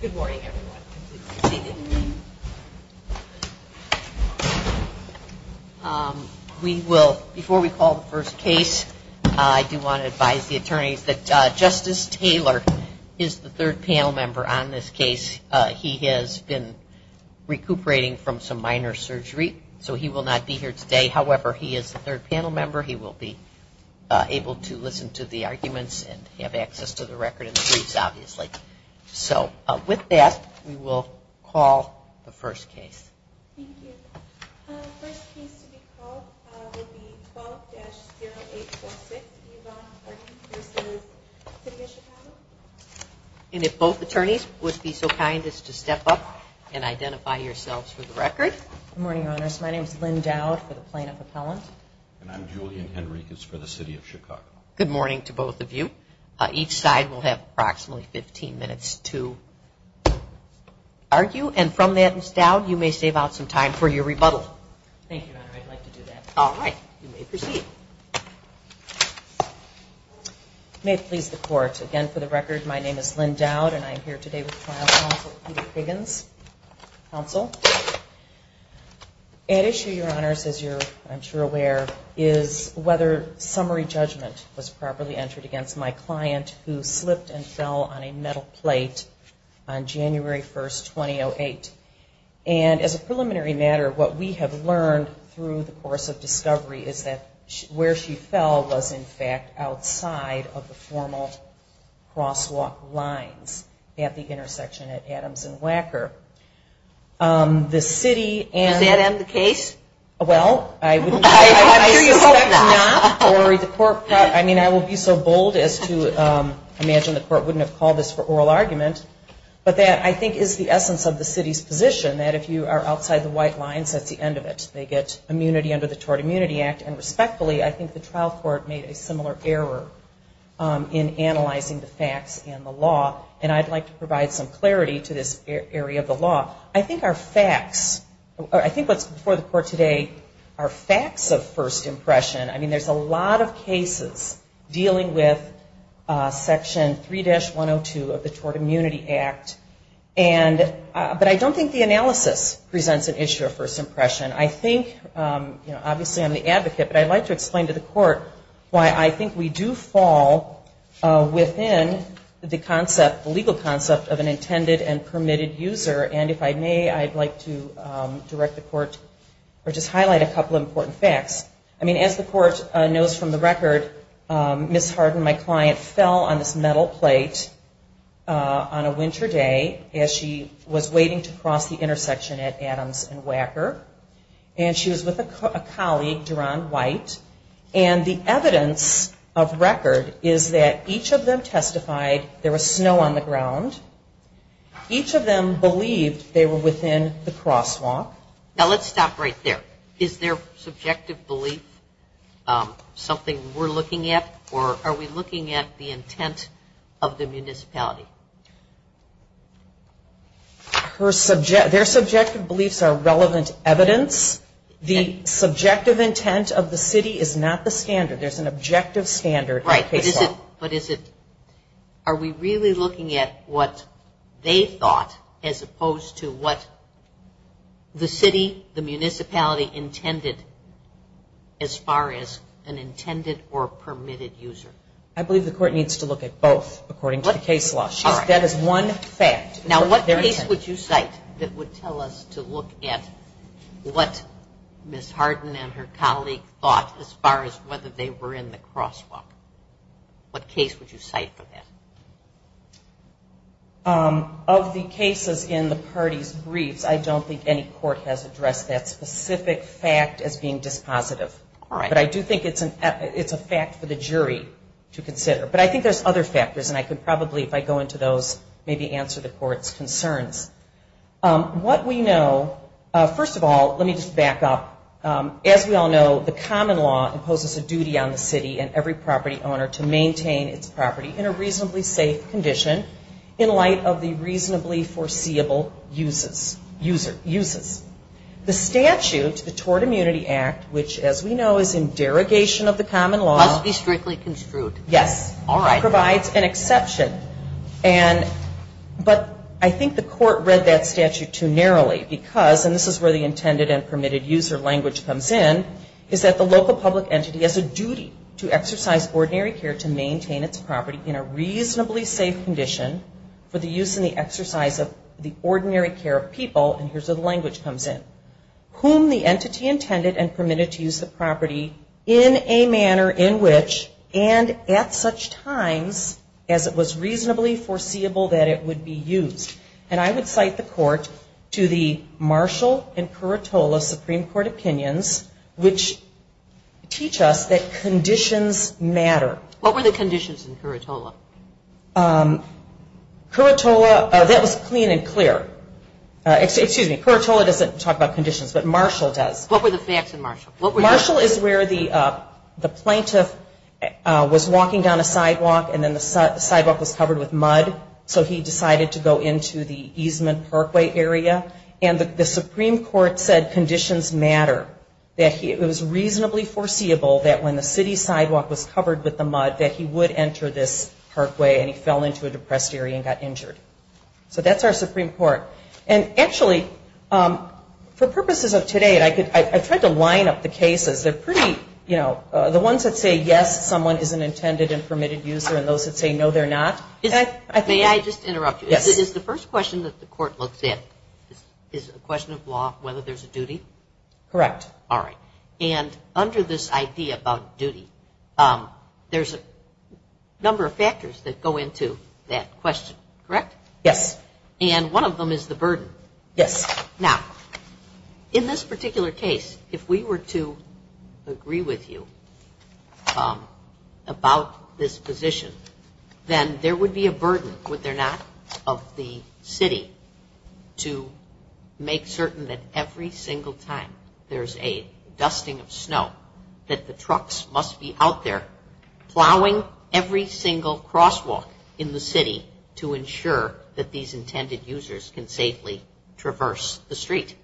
Good morning, everyone. Before we call the first case, I do want to advise the attorneys that Justice Taylor is the third panel member on this case. He has been recuperating from some minor surgery, so he will not be here today. However, he is the third panel member. He will be able to listen to the arguments and have access to the record and the briefs, obviously. So with that, we will call the first case. And if both attorneys would be so kind as to step up and identify yourselves for the record. Good morning, Your Honors. My name is Lynn Dowd for the plaintiff appellant. And I'm Julian Henriques for the City of Chicago. Good morning to both of you. Each side will have approximately 15 minutes to argue. And from that, Ms. Dowd, you may save out some time for your rebuttal. Thank you, Your Honor. I'd like to do that. All right. You may proceed. May it please the Court. Again, for the record, my name is Lynn Dowd, and I'm here today with the trial counsel, Peter Kiggins, counsel. At issue, Your Honors, as you're, I'm sure, aware, is whether summary judgment was properly entered against my client who slipped and fell on a metal plate on January 1st, 2008. And as a preliminary matter, what we have learned through the course of discovery is that where she fell was, in fact, outside of the formal crosswalk lines at the intersection at Adams and Wacker. Does that end the case? Well, I suspect not. I mean, I will be so bold as to imagine the Court wouldn't have called this for oral argument. But that, I think, is the essence of the City's position, that if you are outside the white lines, that's the end of it. They get immunity under the Tort Immunity Act. And respectfully, I think the trial court made a similar error in analyzing the facts and the law. And I'd like to provide some clarity to this area of the law. I think our facts, I think what's before the Court today are facts of first impression. I mean, there's a lot of cases dealing with Section 3-102 of the Tort Immunity Act. And, but I don't think the analysis presents an issue of first impression. I think, you know, obviously I'm the advocate, but I'd like to explain to the Court why I think we do fall within the concept, the legal concept of an intended and permitted user. And if I may, I'd like to direct the Court, or just highlight a couple of important facts. I mean, as the Court knows from the record, Ms. Harden, my client, fell on this metal plate on a winter day as she was waiting to cross the intersection at Adams and Wacker. And she was with a colleague, Duran White. And the evidence of record is that each of them testified there was snow on the ground. Each of them believed they were within the crosswalk. Now let's stop right there. Is their subjective belief something we're looking at, or are we looking at the intent of the municipality? Their subjective beliefs are relevant evidence. The subjective intent of the city is not the standard. There's an objective standard in the case law. Right, but is it, are we really looking at what they thought as opposed to what the city, the municipality, intended as far as an intended or permitted user? I believe the Court needs to look at both according to the case law. That is one fact. Now what case would you cite that would tell us to look at what Ms. Harden and her colleague thought as far as whether they were in the crosswalk? What case would you cite for that? Of the cases in the parties' briefs, I don't think any court has addressed that specific fact as being dispositive. All right. But I do think it's a fact for the jury to consider. But I think there's other factors, and I could probably, if I go into those, maybe answer the Court's concerns. What we know, first of all, let me just back up. As we all know, the common law imposes a duty on the city and every property owner to maintain its property in a reasonably safe condition in light of the reasonably foreseeable uses. The statute, the Tort Immunity Act, which as we know is in derogation of the common law Must be strictly construed. Yes. All right. Provides an exception. But I think the Court read that statute too narrowly because, and this is where the intended and permitted user language comes in, is that the local public entity has a duty to exercise ordinary care to maintain its property in a reasonably safe condition for the use and the exercise of the ordinary care of people, and here's where the language comes in, whom the entity intended and permitted to use the property in a manner in which and at such times as it was reasonably foreseeable that it would be used. And I would cite the Court to the Marshall and Curatola Supreme Court opinions, which teach us that conditions matter. What were the conditions in Curatola? Curatola, that was clean and clear. Excuse me, Curatola doesn't talk about conditions, but Marshall does. What were the facts in Marshall? Marshall is where the plaintiff was walking down a sidewalk and then the sidewalk was covered with mud, so he decided to go into the easement parkway area, and the Supreme Court said conditions matter, that it was reasonably foreseeable that when the city sidewalk was covered with the mud that he would enter this parkway and he fell into a depressed area and got injured. So that's our Supreme Court. And actually, for purposes of today, I tried to line up the cases. They're pretty, you know, the ones that say yes, someone is an intended and permitted user and those that say no, they're not. May I just interrupt you? Yes. Is the first question that the Court looks at is a question of law, whether there's a duty? Correct. All right. And under this idea about duty, there's a number of factors that go into that question, correct? Yes. And one of them is the burden. Yes. Now, in this particular case, if we were to agree with you about this position, then there would be a burden, would there not, of the city to make certain that every single time there's a dusting of snow that the trucks must be out there plowing every single crosswalk in the city to ensure that these intended users can safely traverse the street?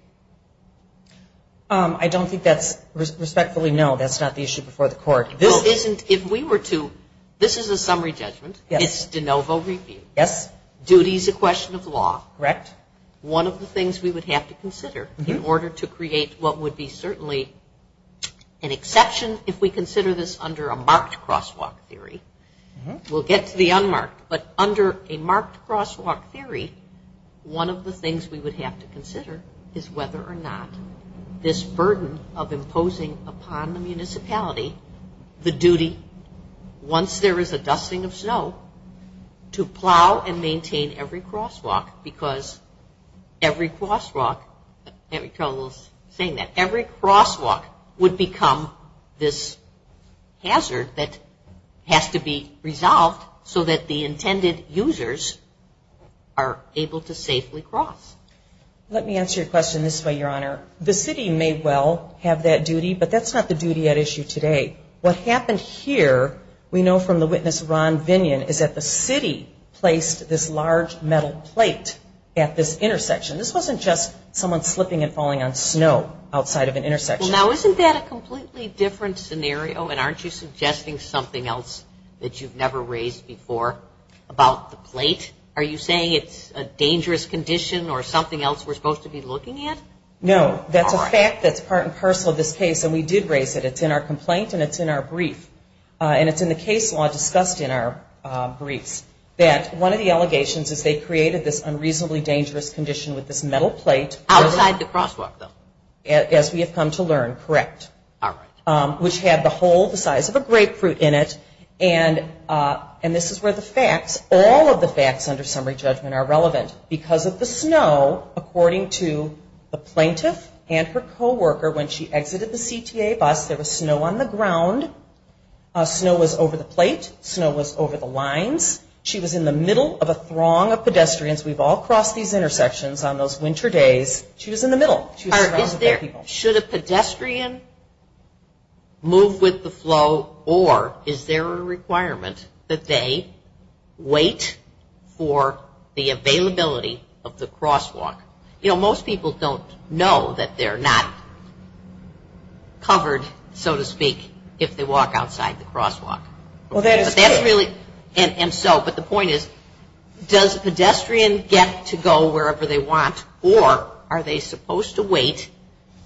I don't think that's respectfully, no, that's not the issue before the Court. This isn't, if we were to, this is a summary judgment. Yes. It's de novo review. Yes. Duty is a question of law. Correct. One of the things we would have to consider in order to create what would be certainly an exception, if we consider this under a marked crosswalk theory, we'll get to the unmarked, but under a marked crosswalk theory, one of the things we would have to consider is whether or not this burden of every crosswalk would become this hazard that has to be resolved so that the intended users are able to safely cross. Let me answer your question this way, Your Honor. The city may well have that duty, but that's not the duty at issue today. What happened here, we know from the witness Ron Vinion, is that the city placed this large metal plate at this intersection. This wasn't just someone slipping and falling on snow outside of an intersection. Now, isn't that a completely different scenario, and aren't you suggesting something else that you've never raised before about the plate? Are you saying it's a dangerous condition or something else we're supposed to be looking at? No. That's a fact that's part and parcel of this case, and we did raise it. It's in our complaint, and it's in our brief, and it's in the case law discussed in our briefs, that one of the allegations is they created this unreasonably dangerous condition with this metal plate. Outside the crosswalk, though. As we have come to learn, correct. All right. Which had the hole the size of a grapefruit in it, and this is where the facts, all of the facts under summary judgment are relevant. Because of the snow, according to the plaintiff and her co-worker, when she exited the CTA bus, there was snow on the ground. Snow was over the plate. Snow was over the lines. She was in the middle of a throng of pedestrians. We've all crossed these intersections on those winter days. She was in the middle. She was surrounded by people. Should a pedestrian move with the flow, or is there a requirement that they wait for the availability of the crosswalk? You know, most people don't know that they're not covered, so to speak, if they walk outside the crosswalk. And so, but the point is, does a pedestrian get to go wherever they want, or are they supposed to wait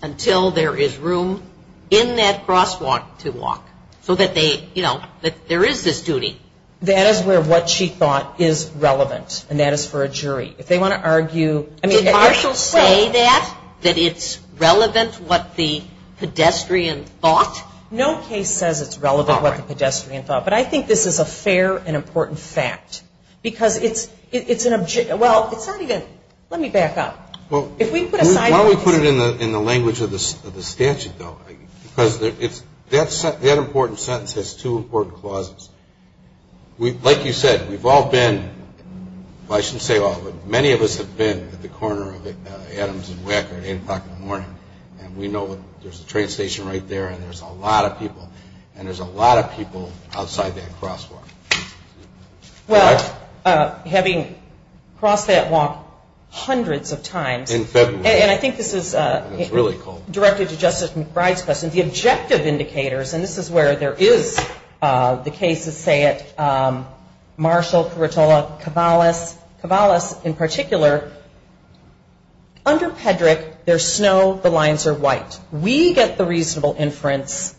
until there is room in that crosswalk to walk? So that they, you know, that there is this duty. That is where what she thought is relevant, and that is for a jury. If they want to argue. Did Marshall say that, that it's relevant what the pedestrian thought? No case says it's relevant what the pedestrian thought. But I think this is a fair and important fact. Because it's an, well, it's not even, let me back up. If we put aside. Why don't we put it in the language of the statute, though? Because that important sentence has two important clauses. Like you said, we've all been, well, I shouldn't say all, but many of us have been at the corner of Adams and Wecker at 8 o'clock in the morning. And we know that there's a train station right there, and there's a lot of people. And there's a lot of people outside that crosswalk. Well, having crossed that walk hundreds of times. In February. And I think this is. It was really cold. Directed to Justice McBride's question. The objective indicators, and this is where there is the case to say it. Marshall, Peritola, Cavallis. Cavallis in particular. Under Pedrick, there's snow, the lines are white. We get the reasonable inference,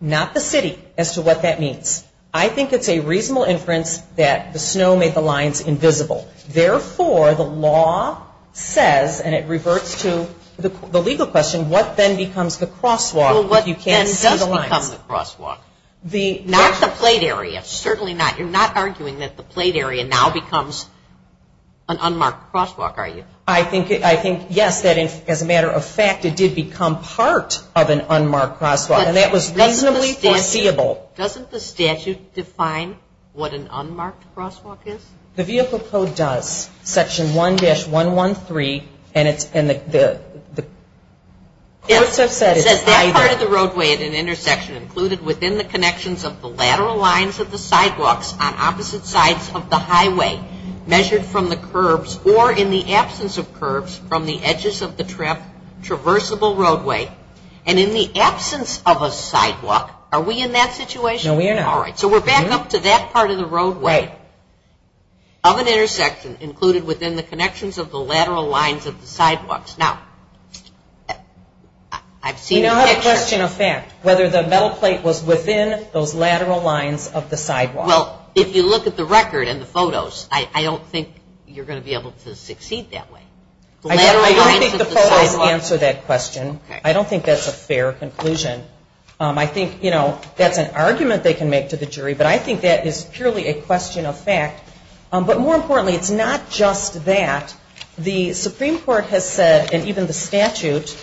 not the city, as to what that means. I think it's a reasonable inference that the snow made the lines invisible. Therefore, the law says, and it reverts to the legal question, what then becomes the crosswalk? Well, what then does become the crosswalk? Not the plate area. Certainly not. You're not arguing that the plate area now becomes an unmarked crosswalk, are you? I think, yes, that as a matter of fact, it did become part of an unmarked crosswalk. And that was reasonably foreseeable. Doesn't the statute define what an unmarked crosswalk is? The Vehicle Code does. Section 1-113, and the courts have said it's either. It says that part of the roadway at an intersection included within the connections of the lateral lines of the sidewalks on opposite sides of the highway, measured from the curbs, or in the absence of curbs, from the edges of the traversable roadway, and in the absence of a sidewalk. Are we in that situation? No, we are not. All right. So we're back up to that part of the roadway. Right. Of an intersection included within the connections of the lateral lines of the sidewalks. Now, I've seen the picture. We don't have a question of fact, whether the metal plate was within those lateral lines of the sidewalk. Well, if you look at the record and the photos, I don't think you're going to be able to succeed that way. I don't think the photos answer that question. I don't think that's a fair conclusion. I think, you know, that's an argument they can make to the jury, but I think that is purely a question of fact. But more importantly, it's not just that. The Supreme Court has said, and even the statute,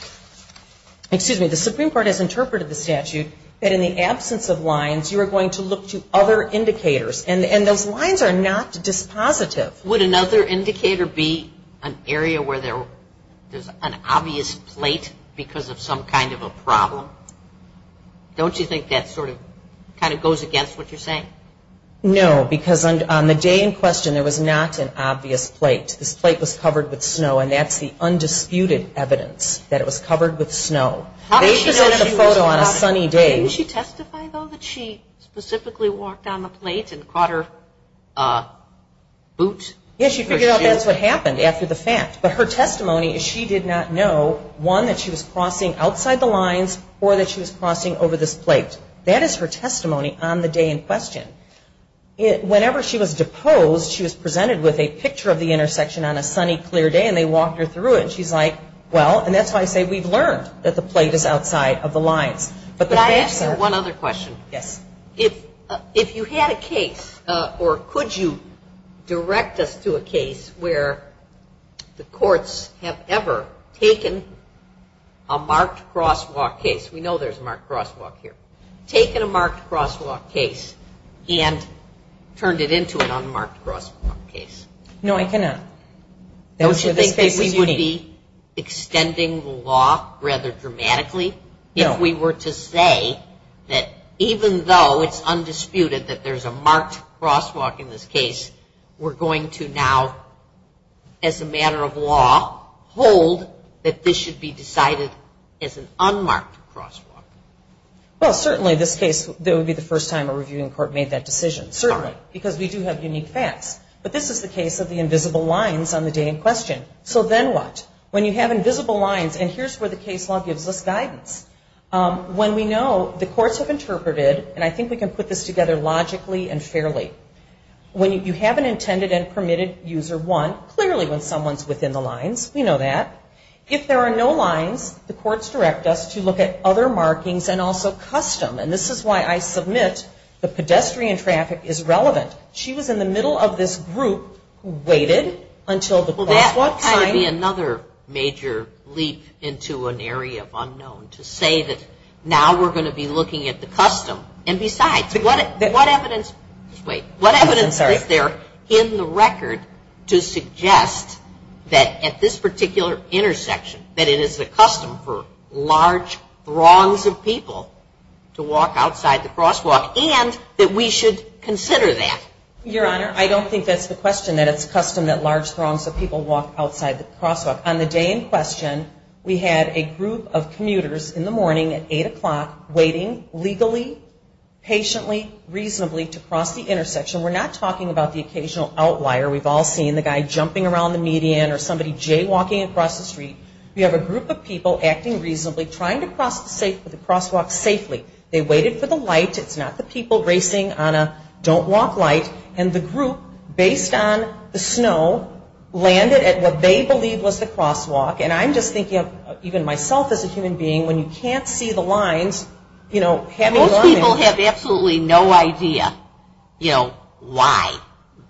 excuse me, the Supreme Court has interpreted the statute, that in the absence of lines, you are going to look to other indicators. And those lines are not dispositive. Would another indicator be an area where there's an obvious plate because of some kind of a problem? Don't you think that sort of kind of goes against what you're saying? No, because on the day in question, there was not an obvious plate. This plate was covered with snow, and that's the undisputed evidence that it was covered with snow. They presented the photo on a sunny day. Didn't she testify, though, that she specifically walked down the plate and caught her boot? Yes, she figured out that's what happened after the fact. But her testimony is she did not know, one, that she was crossing outside the lines or that she was crossing over this plate. That is her testimony on the day in question. Whenever she was deposed, she was presented with a picture of the intersection on a sunny, clear day, and they walked her through it. And she's like, well, and that's why I say we've learned that the plate is outside of the lines. But the facts are- Can I ask you one other question? Yes. If you had a case, or could you direct us to a case where the courts have ever taken a marked crosswalk case? We know there's a marked crosswalk here. Taken a marked crosswalk case and turned it into an unmarked crosswalk case? No, I cannot. We would be extending the law rather dramatically if we were to say that even though it's undisputed that there's a marked crosswalk in this case, we're going to now, as a matter of law, hold that this should be decided as an unmarked crosswalk. Well, certainly this case, that would be the first time a reviewing court made that decision. Certainly. Because we do have unique facts. But this is the case of the invisible lines on the day in question. So then what? When you have invisible lines, and here's where the case law gives us guidance. When we know the courts have interpreted, and I think we can put this together logically and fairly, when you have an intended and permitted user one, clearly when someone's within the lines, we know that. If there are no lines, the courts direct us to look at other markings and also custom. And this is why I submit the pedestrian traffic is relevant. She was in the middle of this group who waited until the crosswalk time. Well, that would be another major leap into an area of unknown to say that now we're going to be looking at the custom. And besides, what evidence is there in the record to suggest that at this particular intersection, that it is the custom for large throngs of people to walk outside the crosswalk and that we should consider that? Your Honor, I don't think that's the question. That it's custom that large throngs of people walk outside the crosswalk. On the day in question, we had a group of commuters in the morning at 8 o'clock waiting legally, patiently, reasonably to cross the intersection. We're not talking about the occasional outlier. We've all seen the guy jumping around the median or somebody jaywalking across the street. We have a group of people acting reasonably, trying to cross the crosswalk safely. They waited for the light. It's not the people racing on a don't-walk light. And the group, based on the snow, landed at what they believed was the crosswalk. And I'm just thinking, even myself as a human being, when you can't see the lines, you know, having learned. Most people have absolutely no idea, you know, why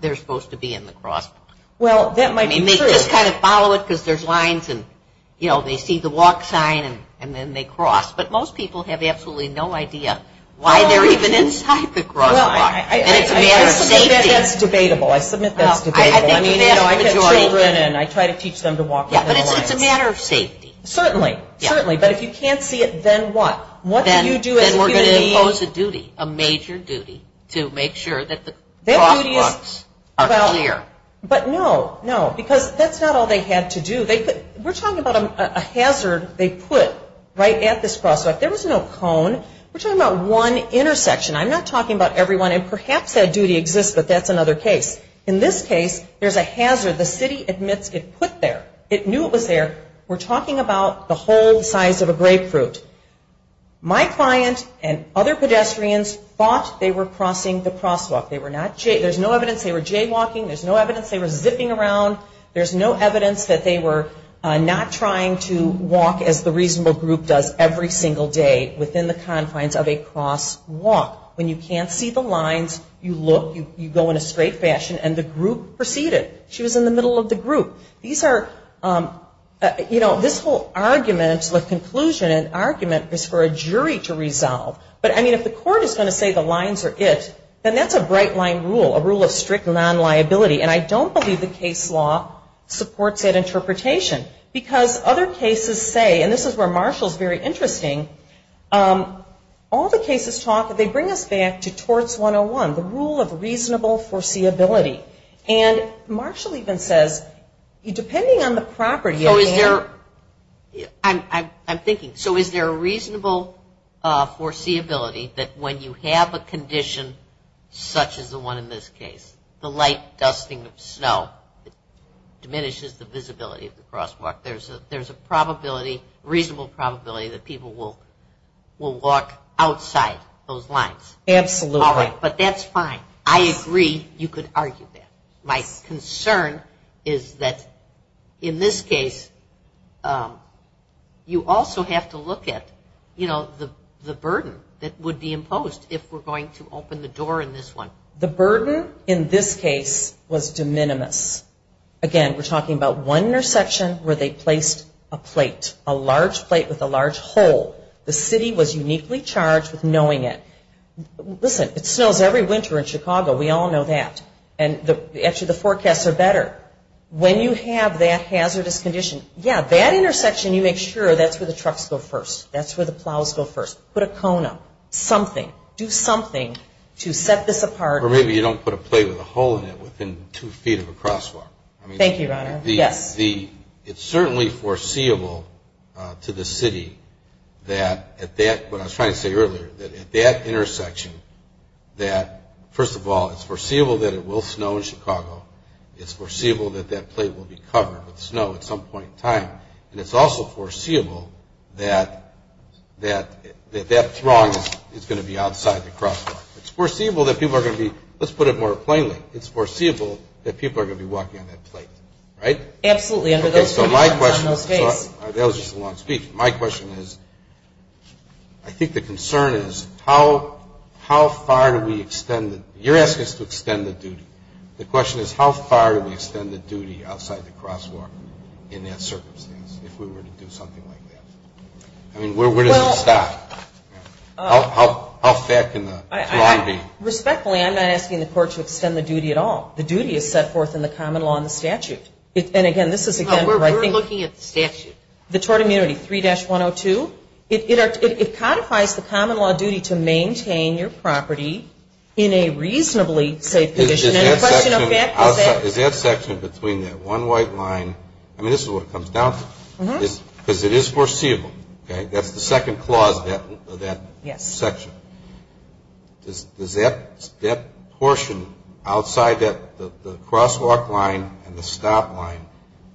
they're supposed to be in the crosswalk. Well, that might be true. I mean, they just kind of follow it because there's lines and, you know, they see the walk sign and then they cross. But most people have absolutely no idea why they're even inside the crosswalk. And it's a matter of safety. Well, I submit that's debatable. I submit that's debatable. I mean, you know, I have children and I try to teach them to walk on the lines. Yeah, but it's a matter of safety. Certainly. Certainly. But if you can't see it, then what? What do you do as a human being? Then we're going to impose a duty, a major duty, to make sure that the crosswalks are clear. But no, no, because that's not all they had to do. We're talking about a hazard they put right at this crosswalk. There was no cone. We're talking about one intersection. I'm not talking about everyone. And perhaps that duty exists, but that's another case. In this case, there's a hazard the city admits it put there. It knew it was there. We're talking about the whole size of a grapefruit. My client and other pedestrians thought they were crossing the crosswalk. There's no evidence they were jaywalking. There's no evidence they were zipping around. There's no evidence that they were not trying to walk as the reasonable group does every single day within the confines of a crosswalk. When you can't see the lines, you look, you go in a straight fashion, and the group proceeded. She was in the middle of the group. These are, you know, this whole argument with conclusion and argument is for a jury to resolve. But, I mean, if the court is going to say the lines are it, then that's a bright line rule, a rule of strict non-liability. And I don't believe the case law supports that interpretation because other cases say, and this is where Marshall's very interesting, all the cases talk, they bring us back to torts 101, the rule of reasonable foreseeability. And Marshall even says, depending on the property of the area. I'm thinking, so is there a reasonable foreseeability that when you have a condition such as the one in this case, the light dusting of snow diminishes the visibility of the crosswalk. There's a probability, reasonable probability that people will walk outside those lines. Absolutely. But that's fine. I agree you could argue that. My concern is that in this case you also have to look at, you know, the burden that would be imposed if we're going to open the door in this one. The burden in this case was de minimis. Again, we're talking about one intersection where they placed a plate, a large plate with a large hole. The city was uniquely charged with knowing it. Listen, it snows every winter in Chicago. We all know that. And actually the forecasts are better. When you have that hazardous condition, yeah, that intersection you make sure that's where the trucks go first. That's where the plows go first. Put a cone up. Something. Do something to set this apart. Or maybe you don't put a plate with a hole in it within two feet of a crosswalk. Thank you, Your Honor. Yes. It's certainly foreseeable to the city that at that, what I was trying to say earlier, that at that intersection that, first of all, it's foreseeable that it will snow in Chicago. It's foreseeable that that plate will be covered with snow at some point in time. And it's also foreseeable that that throng is going to be outside the crosswalk. It's foreseeable that people are going to be, let's put it more plainly, it's foreseeable that people are going to be walking on that plate, right? Absolutely. So my question is, that was just a long speech. My question is, I think the concern is how far do we extend, you're asking us to extend the duty. The question is how far do we extend the duty outside the crosswalk in that circumstance, if we were to do something like that? I mean, where does it stop? How fat can the throng be? Respectfully, I'm not asking the court to extend the duty at all. The duty is set forth in the common law and the statute. And, again, this is again where I think. We're looking at the statute. The tort immunity, 3-102. It codifies the common law duty to maintain your property in a reasonably safe condition. Is that section between that one white line? I mean, this is what it comes down to. Because it is foreseeable, okay? That's the second clause of that section. Is that portion outside the crosswalk line and the stop line,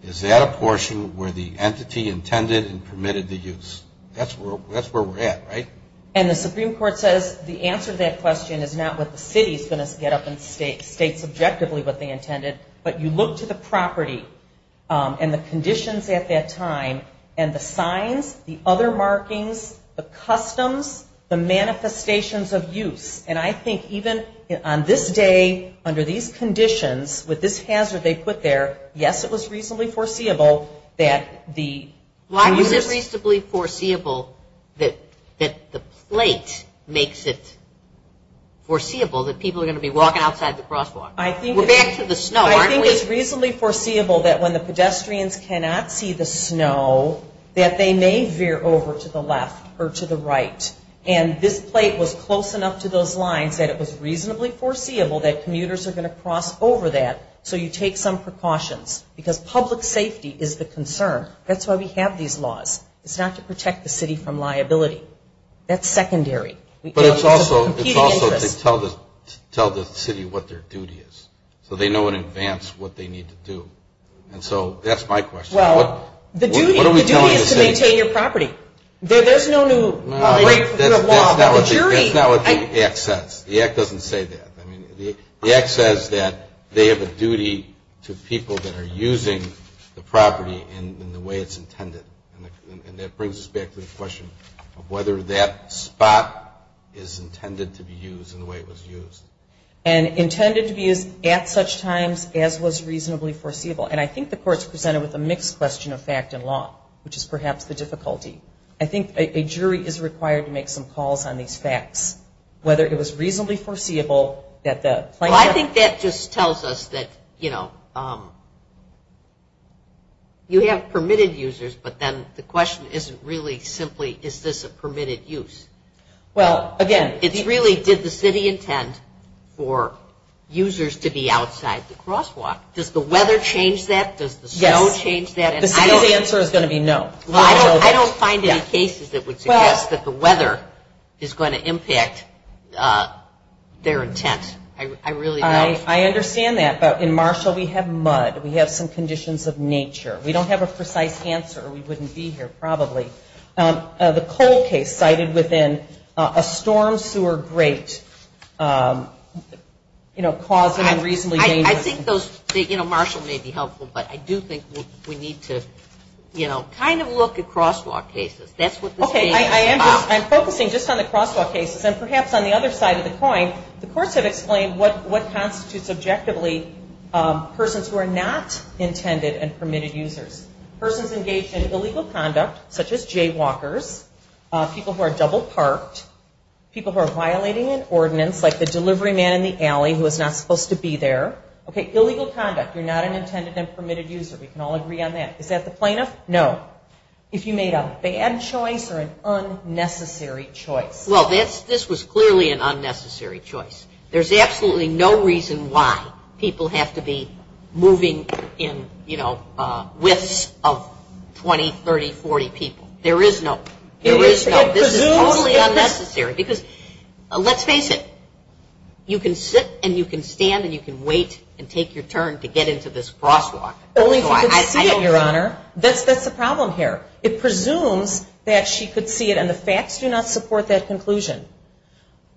is that a portion where the entity intended and permitted the use? That's where we're at, right? And the Supreme Court says the answer to that question is not what the city is going to get up and state subjectively what they intended, but you look to the property and the conditions at that time and the signs, the other markings, the customs, the manifestations of use. And I think even on this day, under these conditions, with this hazard they put there, yes, it was reasonably foreseeable that the users. It was reasonably foreseeable that the plate makes it foreseeable that people are going to be walking outside the crosswalk. We're back to the snow, aren't we? I think it's reasonably foreseeable that when the pedestrians cannot see the snow, that they may veer over to the left or to the right. And this plate was close enough to those lines that it was reasonably foreseeable that commuters are going to cross over that. So you take some precautions. Because public safety is the concern. That's why we have these laws. It's not to protect the city from liability. That's secondary. But it's also to tell the city what their duty is. So they know in advance what they need to do. And so that's my question. Well, the duty is to maintain your property. There's no new law. That's not what the act says. The act doesn't say that. The act says that they have a duty to people that are using the property in the way it's intended. And that brings us back to the question of whether that spot is intended to be used in the way it was used. And intended to be used at such times as was reasonably foreseeable. And I think the Court's presented with a mixed question of fact and law, which is perhaps the difficulty. I think a jury is required to make some calls on these facts, whether it was reasonably foreseeable. Well, I think that just tells us that, you know, you have permitted users, but then the question isn't really simply is this a permitted use. Well, again, it's really did the city intend for users to be outside the crosswalk? Does the weather change that? Does the snow change that? The city's answer is going to be no. Well, I don't find any cases that would suggest that the weather is going to impact their intent. I really don't. I understand that. But in Marshall we have mud. We have some conditions of nature. We don't have a precise answer or we wouldn't be here probably. The coal case cited within a storm sewer grate, you know, causing a reasonably dangerous. I think those, you know, Marshall may be helpful, but I do think we need to, you know, kind of look at crosswalk cases. Okay. I'm focusing just on the crosswalk cases. And perhaps on the other side of the coin, the courts have explained what constitutes objectively persons who are not intended and permitted users. Persons engaged in illegal conduct such as jaywalkers, people who are double parked, people who are violating an ordinance like the delivery man in the alley who is not supposed to be there. Okay. Not an intended and permitted user. We can all agree on that. Is that the plaintiff? No. If you made a bad choice or an unnecessary choice. Well, this was clearly an unnecessary choice. There's absolutely no reason why people have to be moving in, you know, widths of 20, 30, 40 people. There is no. There is no. This is totally unnecessary. Because let's face it, you can sit and you can stand and you can wait and take your turn to get into this crosswalk. Only if you could see it, Your Honor. That's the problem here. It presumes that she could see it and the facts do not support that conclusion.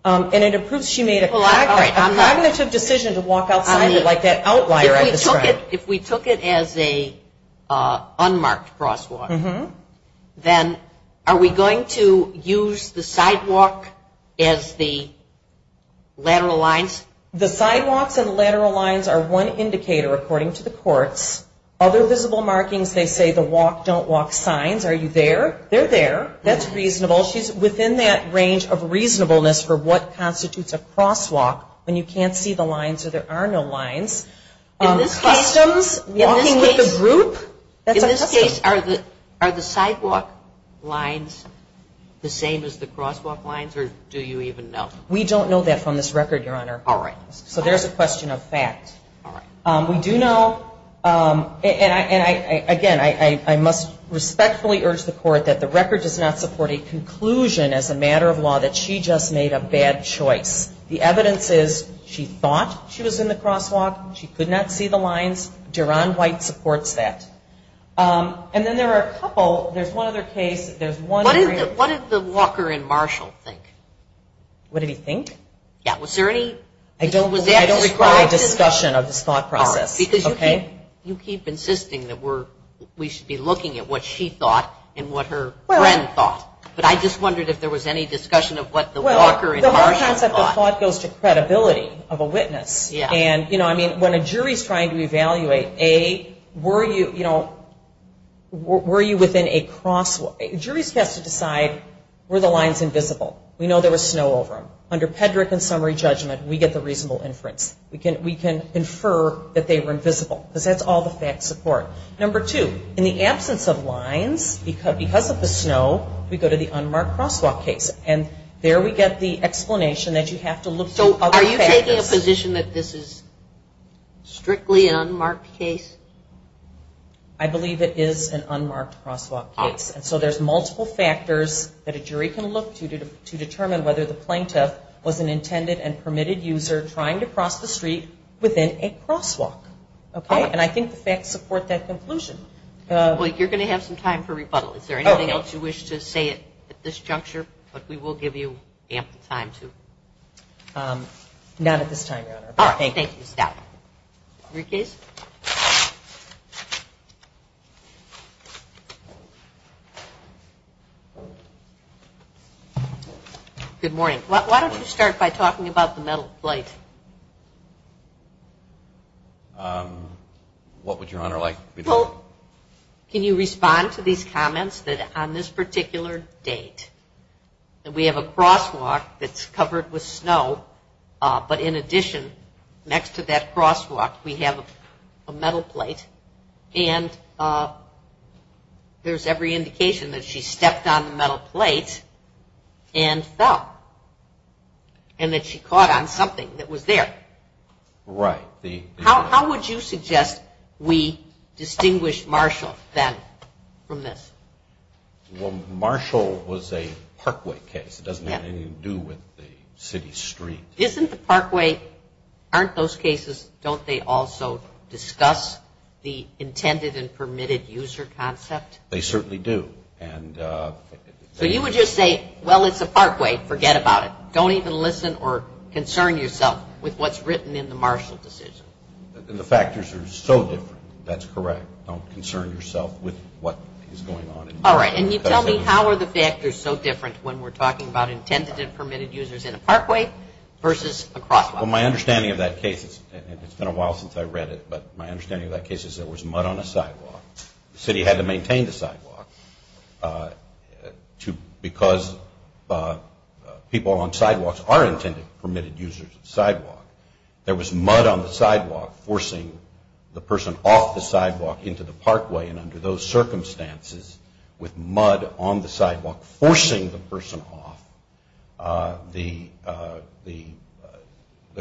And it improves she made a cognitive decision to walk outside like that outlier. If we took it as a unmarked crosswalk, then are we going to use the sidewalk as the lateral lines? The sidewalks and lateral lines are one indicator according to the courts. Other visible markings, they say the walk, don't walk signs. Are you there? They're there. That's reasonable. She's within that range of reasonableness for what constitutes a crosswalk when you can't see the lines or there are no lines. Customs, walking with a group, that's a custom. In this case, are the sidewalk lines the same as the crosswalk lines or do you even know? We don't know that from this record, Your Honor. All right. So there's a question of fact. All right. We do know, and, again, I must respectfully urge the court that the record does not support a conclusion as a matter of law that she just made a bad choice. The evidence is she thought she was in the crosswalk. She could not see the lines. Deron White supports that. And then there are a couple. There's one other case. What did the walker in Marshall think? What did he think? Yeah, was there any? I don't require a discussion of this thought process. Because you keep insisting that we should be looking at what she thought and what her friend thought. But I just wondered if there was any discussion of what the walker in Marshall thought. Well, the whole concept of thought goes to credibility of a witness. Yeah. And, you know, I mean, when a jury is trying to evaluate, A, were you, you know, were you within a crosswalk? Juries have to decide were the lines invisible? We know there was snow over them. Under Pedrick and summary judgment, we get the reasonable inference. We can infer that they were invisible because that's all the facts support. Number two, in the absence of lines, because of the snow, we go to the unmarked crosswalk case. And there we get the explanation that you have to look for other factors. So are you taking a position that this is strictly an unmarked case? I believe it is an unmarked crosswalk case. And so there's multiple factors that a jury can look to to determine whether the plaintiff was an intended and permitted user trying to cross the street within a crosswalk. Okay? And I think the facts support that conclusion. Well, you're going to have some time for rebuttal. Is there anything else you wish to say at this juncture? But we will give you ample time to. Not at this time, Your Honor. All right. Thank you. Good morning. Why don't we start by talking about the metal plate? What would Your Honor like? Well, can you respond to these comments that on this particular date, that we have a crosswalk that's covered with snow, but in addition, next to that crosswalk, we have a metal plate, and there's every indication that she stepped on the metal plate and fell and that she caught on something that was there. Right. How would you suggest we distinguish Marshall then from this? Well, Marshall was a parkway case. It doesn't have anything to do with the city street. Isn't the parkway, aren't those cases, don't they also discuss the intended and permitted user concept? They certainly do. So you would just say, well, it's a parkway, forget about it. Don't even listen or concern yourself with what's written in the Marshall decision. The factors are so different. That's correct. Don't concern yourself with what is going on. All right. Can you tell me how are the factors so different when we're talking about intended and permitted users in a parkway versus a crosswalk? Well, my understanding of that case, and it's been a while since I read it, but my understanding of that case is there was mud on a sidewalk. The city had to maintain the sidewalk because people on sidewalks are intended and permitted users of the sidewalk. There was mud on the sidewalk forcing the person off the sidewalk into the parkway, and under those circumstances, with mud on the sidewalk forcing the person off, the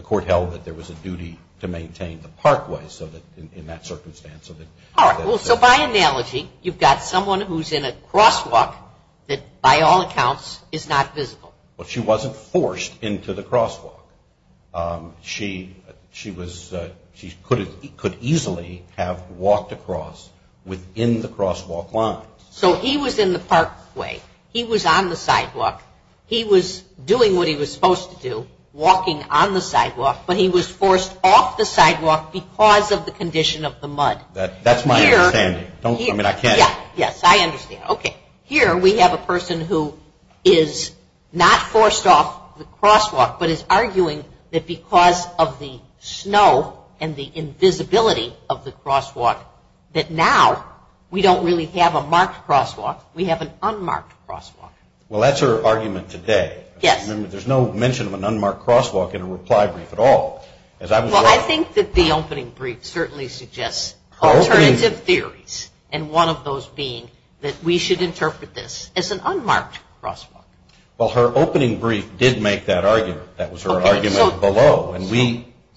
court held that there was a duty to maintain the parkway in that circumstance. All right. So by analogy, you've got someone who's in a crosswalk that, by all accounts, is not visible. Well, she wasn't forced into the crosswalk. She could easily have walked across within the crosswalk lines. So he was in the parkway. He was on the sidewalk. He was doing what he was supposed to do, walking on the sidewalk, but he was forced off the sidewalk because of the condition of the mud. That's my understanding. Yes, I understand. Okay, here we have a person who is not forced off the crosswalk but is arguing that because of the snow and the invisibility of the crosswalk, that now we don't really have a marked crosswalk. We have an unmarked crosswalk. Well, that's her argument today. There's no mention of an unmarked crosswalk in a reply brief at all. Well, I think that the opening brief certainly suggests alternative theories, and one of those being that we should interpret this as an unmarked crosswalk. Well, her opening brief did make that argument. That was her argument below.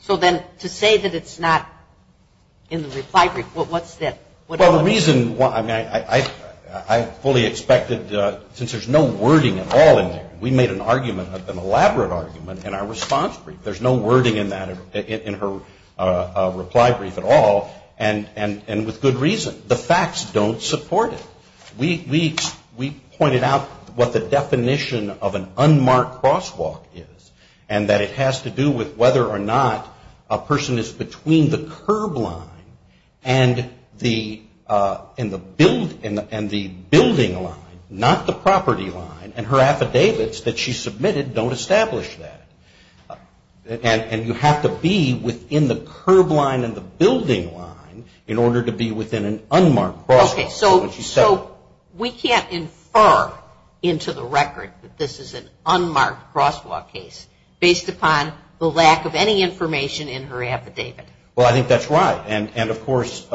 So then to say that it's not in the reply brief, what's that? Well, the reason why I fully expected, since there's no wording at all in there, we made an argument, an elaborate argument in our response brief. There's no wording in her reply brief at all, and with good reason. The facts don't support it. We pointed out what the definition of an unmarked crosswalk is and that it has to do with whether or not a person is between the curb line and the building line, not the property line, and her affidavits that she submitted don't establish that. And you have to be within the curb line and the building line in order to be within an unmarked crosswalk. Okay, so we can't infer into the record that this is an unmarked crosswalk case, based upon the lack of any information in her affidavit. Well, I think that's right. And, of course,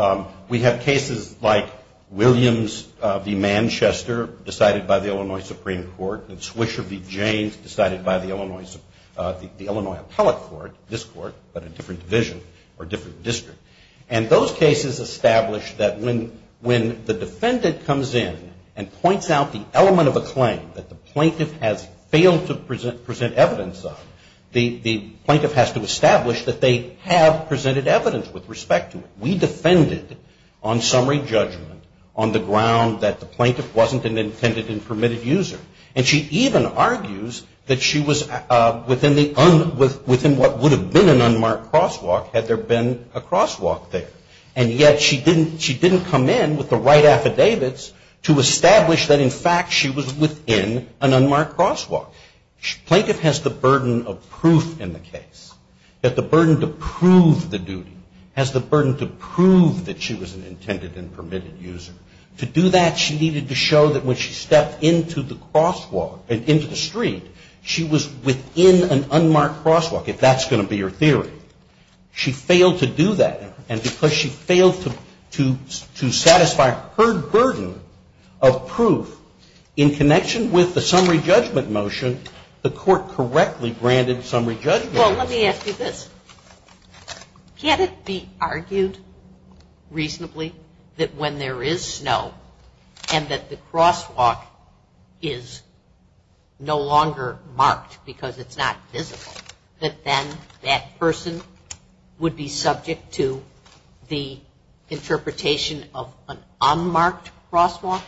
we have cases like Williams v. Manchester, decided by the Illinois Supreme Court, and Swisher v. James, decided by the Illinois Appellate Court, this court, but a different division or different district. And those cases establish that when the defendant comes in and points out the element of a claim that the plaintiff has failed to present evidence of, the plaintiff has to establish that they have presented evidence with respect to it. We defended on summary judgment on the ground that the plaintiff wasn't an intended and permitted user. And she even argues that she was within what would have been an unmarked crosswalk had there been a crosswalk there. And yet she didn't come in with the right affidavits to establish that, in fact, she was within an unmarked crosswalk. Plaintiff has the burden of proof in the case, that the burden to prove the duty, has the burden to prove that she was an intended and permitted user. To do that, she needed to show that when she stepped into the crosswalk, into the street, she was within an unmarked crosswalk, if that's going to be her theory. She failed to do that. And because she failed to satisfy her burden of proof, in connection with the summary judgment motion, the court correctly granted summary judgment. Well, let me ask you this. Can't it be argued reasonably that when there is snow, and that the crosswalk is no longer marked because it's not visible, that then that person would be subject to the interpretation of an unmarked crosswalk?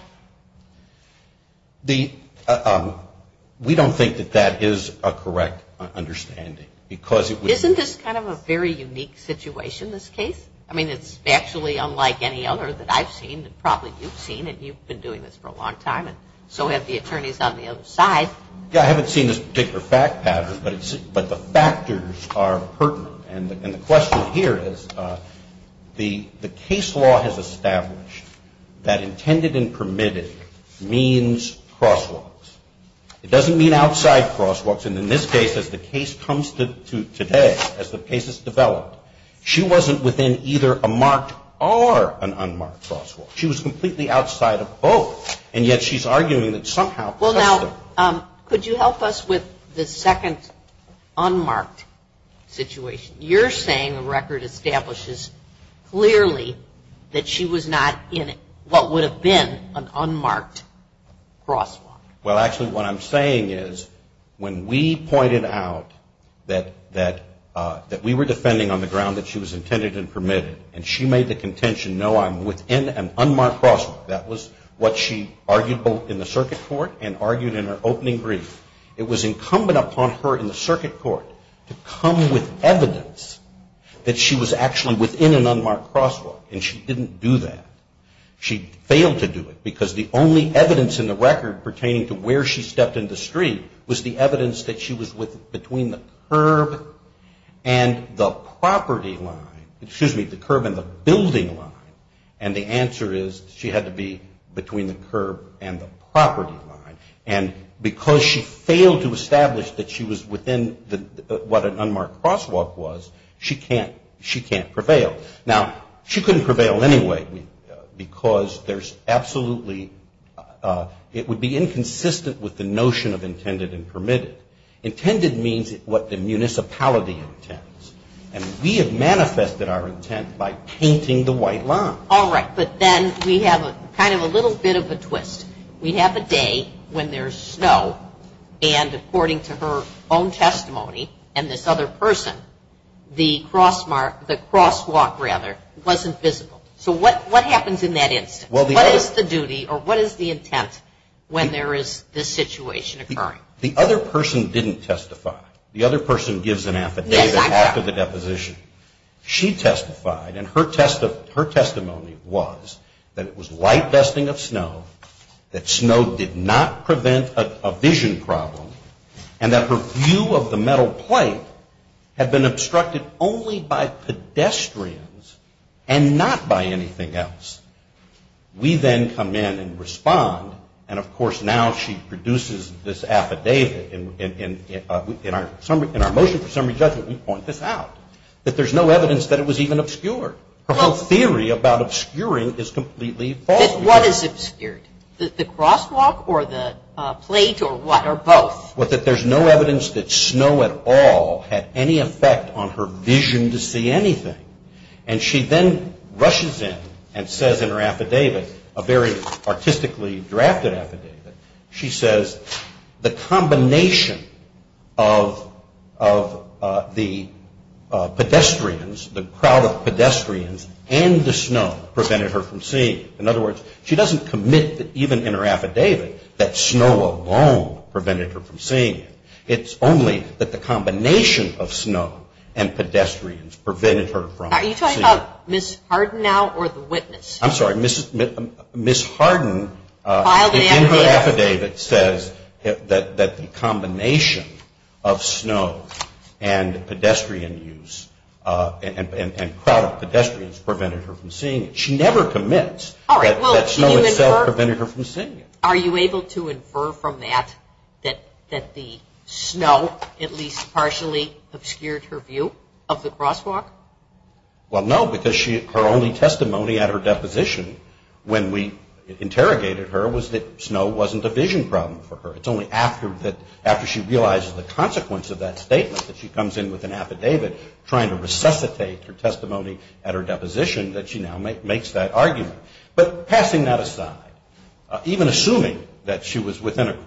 We don't think that that is a correct understanding. Isn't this kind of a very unique situation, this case? I mean, it's actually unlike any other that I've seen, and probably you've seen, and you've been doing this for a long time, and so have the attorneys on the other side. I haven't seen this particular fact pattern, but the factors are pertinent. And the question here is, the case law has established that intended and permitted means crosswalks. It doesn't mean outside crosswalks. And in this case, as the case comes to today, as the case has developed, she wasn't within either a marked or an unmarked crosswalk. She was completely outside of both. And yet she's arguing that somehow. Well, now, could you help us with the second unmarked situation? You're saying the record establishes clearly that she was not in what would have been an unmarked crosswalk. Well, actually, what I'm saying is, when we pointed out that we were defending on the ground that she was intended and permitted, and she made the contention, no, I'm within an unmarked crosswalk, that was what she argued both in the circuit court and argued in her opening brief. It was incumbent upon her in the circuit court to come with evidence that she was actually within an unmarked crosswalk. And she didn't do that. She failed to do it because the only evidence in the record pertaining to where she stepped in the street was the evidence that she was between the curb and the property line, excuse me, the curb and the building line. And the answer is she had to be between the curb and the property line. And because she failed to establish that she was within what an unmarked crosswalk was, she can't prevail. Now, she couldn't prevail anyway because there's absolutely, it would be inconsistent with the notion of intended and permitted. Intended means what the municipality intends. And we have manifested our intent by painting the white line. All right. But then we have kind of a little bit of a twist. We have a day when there's snow, and according to her own testimony and this other person, the crosswalk wasn't visible. So what happens in that instance? What is the duty or what is the intent when there is this situation occurring? The other person didn't testify. The other person gives an affidavit after the deposition. She testified, and her testimony was that it was light vesting of snow, that snow did not prevent a vision problem, and that her view of the metal plate had been obstructed only by pedestrians and not by anything else. We then come in and respond, and, of course, now she produces this affidavit in our motion for summary judgment. We point this out, that there's no evidence that it was even obscured. Her whole theory about obscuring is completely false. What is obscured, the crosswalk or the plate or what, or both? That there's no evidence that snow at all had any effect on her vision to see anything. And she then rushes in and says in her affidavit, a very artistically drafted affidavit, she says the combination of the pedestrians, the crowd of pedestrians and the snow prevented her from seeing it. In other words, she doesn't commit even in her affidavit that snow alone prevented her from seeing it. It's only that the combination of snow and pedestrians prevented her from seeing it. Are you talking about Ms. Harden now or the witness? I'm sorry. Ms. Harden in her affidavit says that the combination of snow and pedestrian use and crowd of pedestrians prevented her from seeing it. She never commits that snow itself prevented her from seeing it. Are you able to infer from that that the snow at least partially obscured her view of the crosswalk? Well, no, because her only testimony at her deposition when we interrogated her was that snow wasn't a vision problem for her. It's only after she realizes the consequence of that statement that she comes in with an affidavit trying to resuscitate her testimony at her deposition that she now makes that argument. But passing that aside, even assuming that she was within an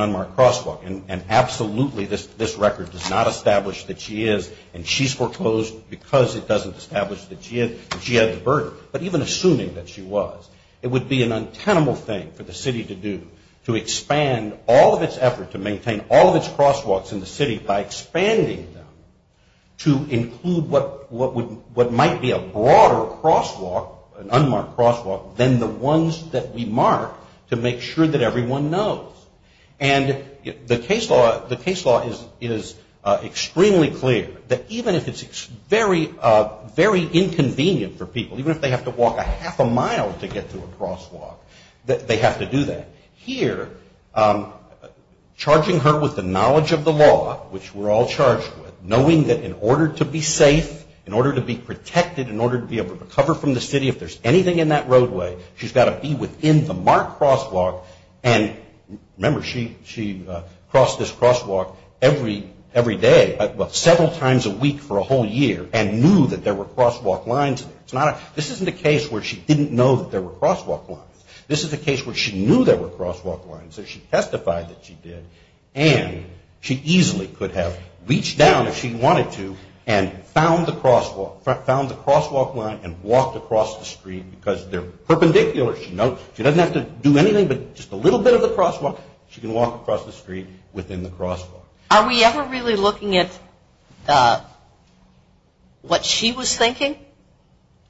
unmarked crosswalk and absolutely this record does not establish that she is and she's foreclosed because it doesn't establish that she had the burden, but even assuming that she was, it would be an untenable thing for the city to do to expand all of its effort to maintain all of its crosswalks in the city by expanding them to include what might be a broader crosswalk, an unmarked crosswalk, than the ones that we mark to make sure that everyone knows. And the case law is extremely clear that even if it's very inconvenient for people, even if they have to walk a half a mile to get to a crosswalk, that they have to do that. Here, charging her with the knowledge of the law, which we're all charged with, knowing that in order to be safe, in order to be protected, in order to be able to recover from the city if there's anything in that roadway, she's got to be within the marked crosswalk. And remember, she crossed this crosswalk every day, well, several times a week for a whole year and knew that there were crosswalk lines there. This isn't a case where she didn't know that there were crosswalk lines. This is a case where she knew there were crosswalk lines, so she testified that she did, and she easily could have reached down if she wanted to and found the crosswalk line and walked across the street because they're perpendicular. She doesn't have to do anything but just a little bit of the crosswalk. She can walk across the street within the crosswalk. Are we ever really looking at what she was thinking?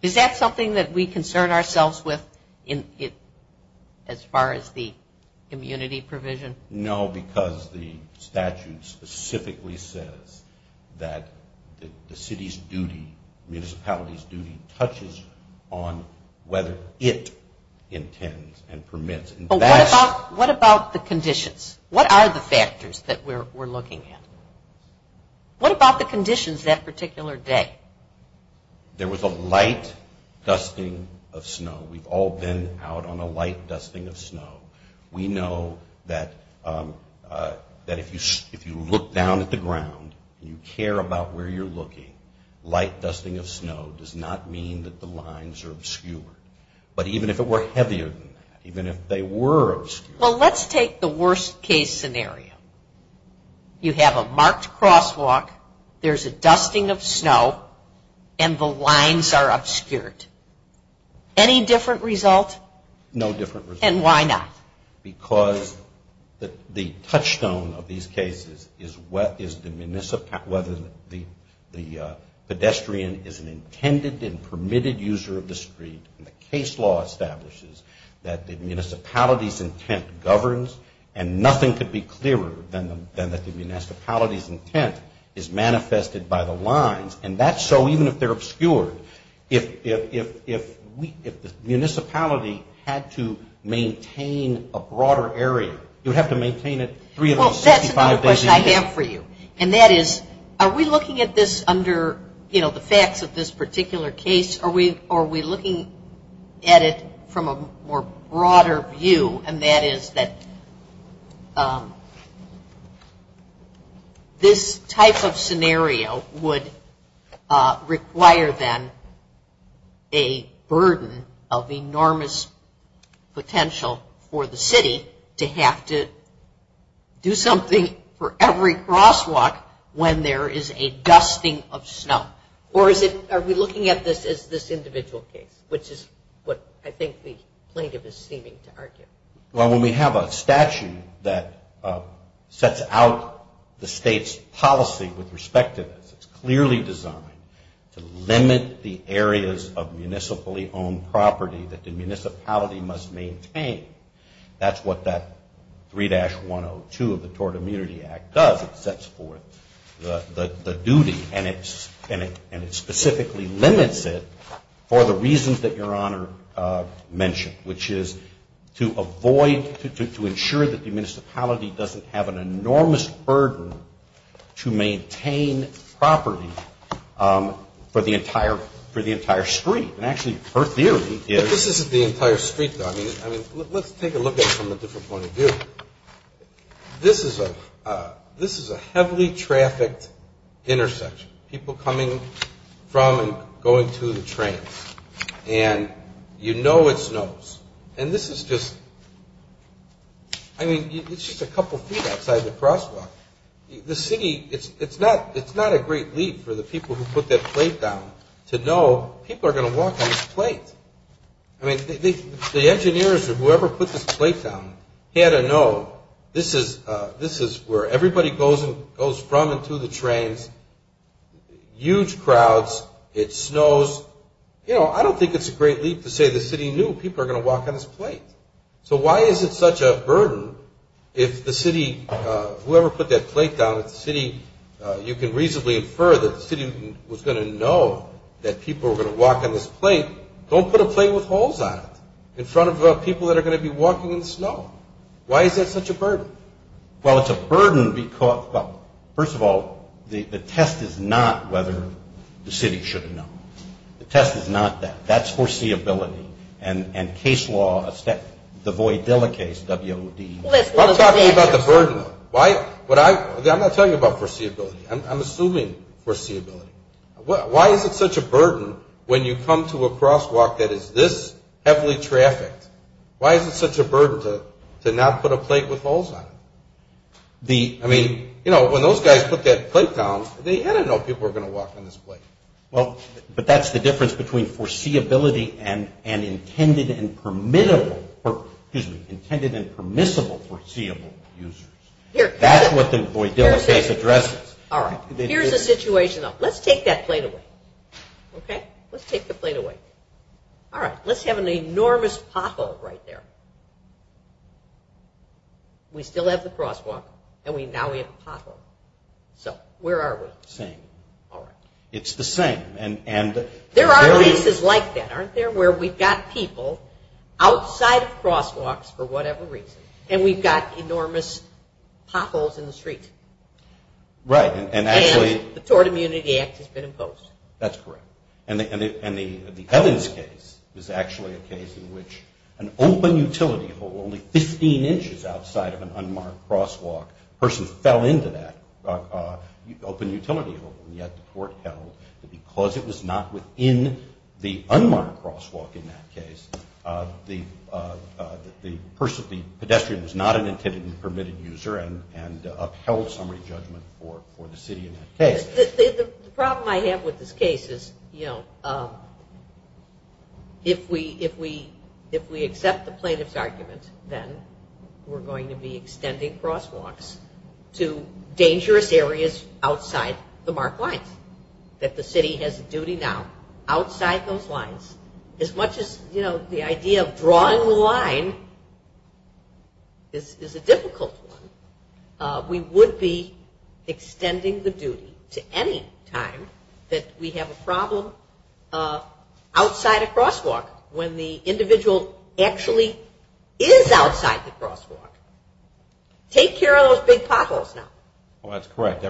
Is that something that we concern ourselves with as far as the immunity provision? No, because the statute specifically says that the city's duty, municipality's duty, touches on whether it intends and permits. What about the conditions? What are the factors that we're looking at? What about the conditions that particular day? There was a light dusting of snow. We've all been out on a light dusting of snow. We know that if you look down at the ground and you care about where you're looking, light dusting of snow does not mean that the lines are obscured. But even if it were heavier than that, even if they were obscured. Well, let's take the worst case scenario. You have a marked crosswalk. There's a dusting of snow, and the lines are obscured. Any different result? No different result. And why not? Because the touchstone of these cases is whether the pedestrian is an intended and permitted user of the street. And the case law establishes that the municipality's intent governs, and nothing could be clearer than that the municipality's intent is manifested by the lines. And that's so even if they're obscured. If the municipality had to maintain a broader area, you'd have to maintain it three of those 65 days a year. Well, that's another question I have for you. And that is, are we looking at this under, you know, the facts of this particular case? Are we looking at it from a more broader view? And that is that this type of scenario would require, then, a burden of enormous potential for the city to have to do something for every crosswalk when there is a dusting of snow. Or are we looking at this as this individual case, which is what I think the plaintiff is seeming to argue? Well, when we have a statute that sets out the state's policy with respect to this, it's clearly designed to limit the areas of municipally owned property that the municipality must maintain. That's what that 3-102 of the Tort Immunity Act does. It sets forth the duty, and it specifically limits it for the reasons that Your Honor mentioned, which is to avoid, to ensure that the municipality doesn't have an enormous burden to maintain property for the entire street. And actually, her theory is- But this isn't the entire street, though. I mean, let's take a look at it from a different point of view. This is a heavily trafficked intersection. People coming from and going to the trains. And you know it snows. And this is just, I mean, it's just a couple feet outside the crosswalk. The city, it's not a great leap for the people who put that plate down to know people are going to walk on this plate. I mean, the engineers or whoever put this plate down had to know this is where everybody goes from and to the trains. Huge crowds. It snows. You know, I don't think it's a great leap to say the city knew people are going to walk on this plate. So why is it such a burden if the city, whoever put that plate down, if the city, you can reasonably infer that the city was going to know that people were going to walk on this plate. Don't put a plate with holes on it in front of people that are going to be walking in the snow. Why is that such a burden? Well, it's a burden because, well, first of all, the test is not whether the city should have known. The test is not that. That's foreseeability. And case law, the Voidilla case, W-O-D. I'm talking about the burden. I'm not telling you about foreseeability. I'm assuming foreseeability. Why is it such a burden when you come to a crosswalk that is this heavily trafficked? Why is it such a burden to not put a plate with holes on it? I mean, you know, when those guys put that plate down, they had to know people were going to walk on this plate. Well, but that's the difference between foreseeability and intended and permissible foreseeable users. That's what the Voidilla case addresses. All right. Here's the situation, though. Let's take that plate away. Okay? Let's take the plate away. All right. Let's have an enormous pothole right there. We still have the crosswalk, and now we have a pothole. So where are we? Same. All right. It's the same. There are cases like that, aren't there, where we've got people outside of crosswalks for whatever reason, and we've got enormous potholes in the street. Right. And the Tort Immunity Act has been imposed. That's correct. And the Evans case is actually a case in which an open utility hole only 15 inches outside of an unmarked crosswalk, a person fell into that open utility hole, and yet the court held that because it was not within the unmarked crosswalk in that case, the person, the pedestrian was not an intended and permitted user and upheld summary judgment for the city in that case. The problem I have with this case is, you know, if we accept the plaintiff's argument, then we're going to be extending crosswalks to dangerous areas outside the marked lines, that the city has a duty now outside those lines. As much as, you know, the idea of drawing the line is a difficult one, we would be extending the duty to any time that we have a problem outside a crosswalk when the individual actually is outside the crosswalk. Take care of those big potholes now. Well, that's correct.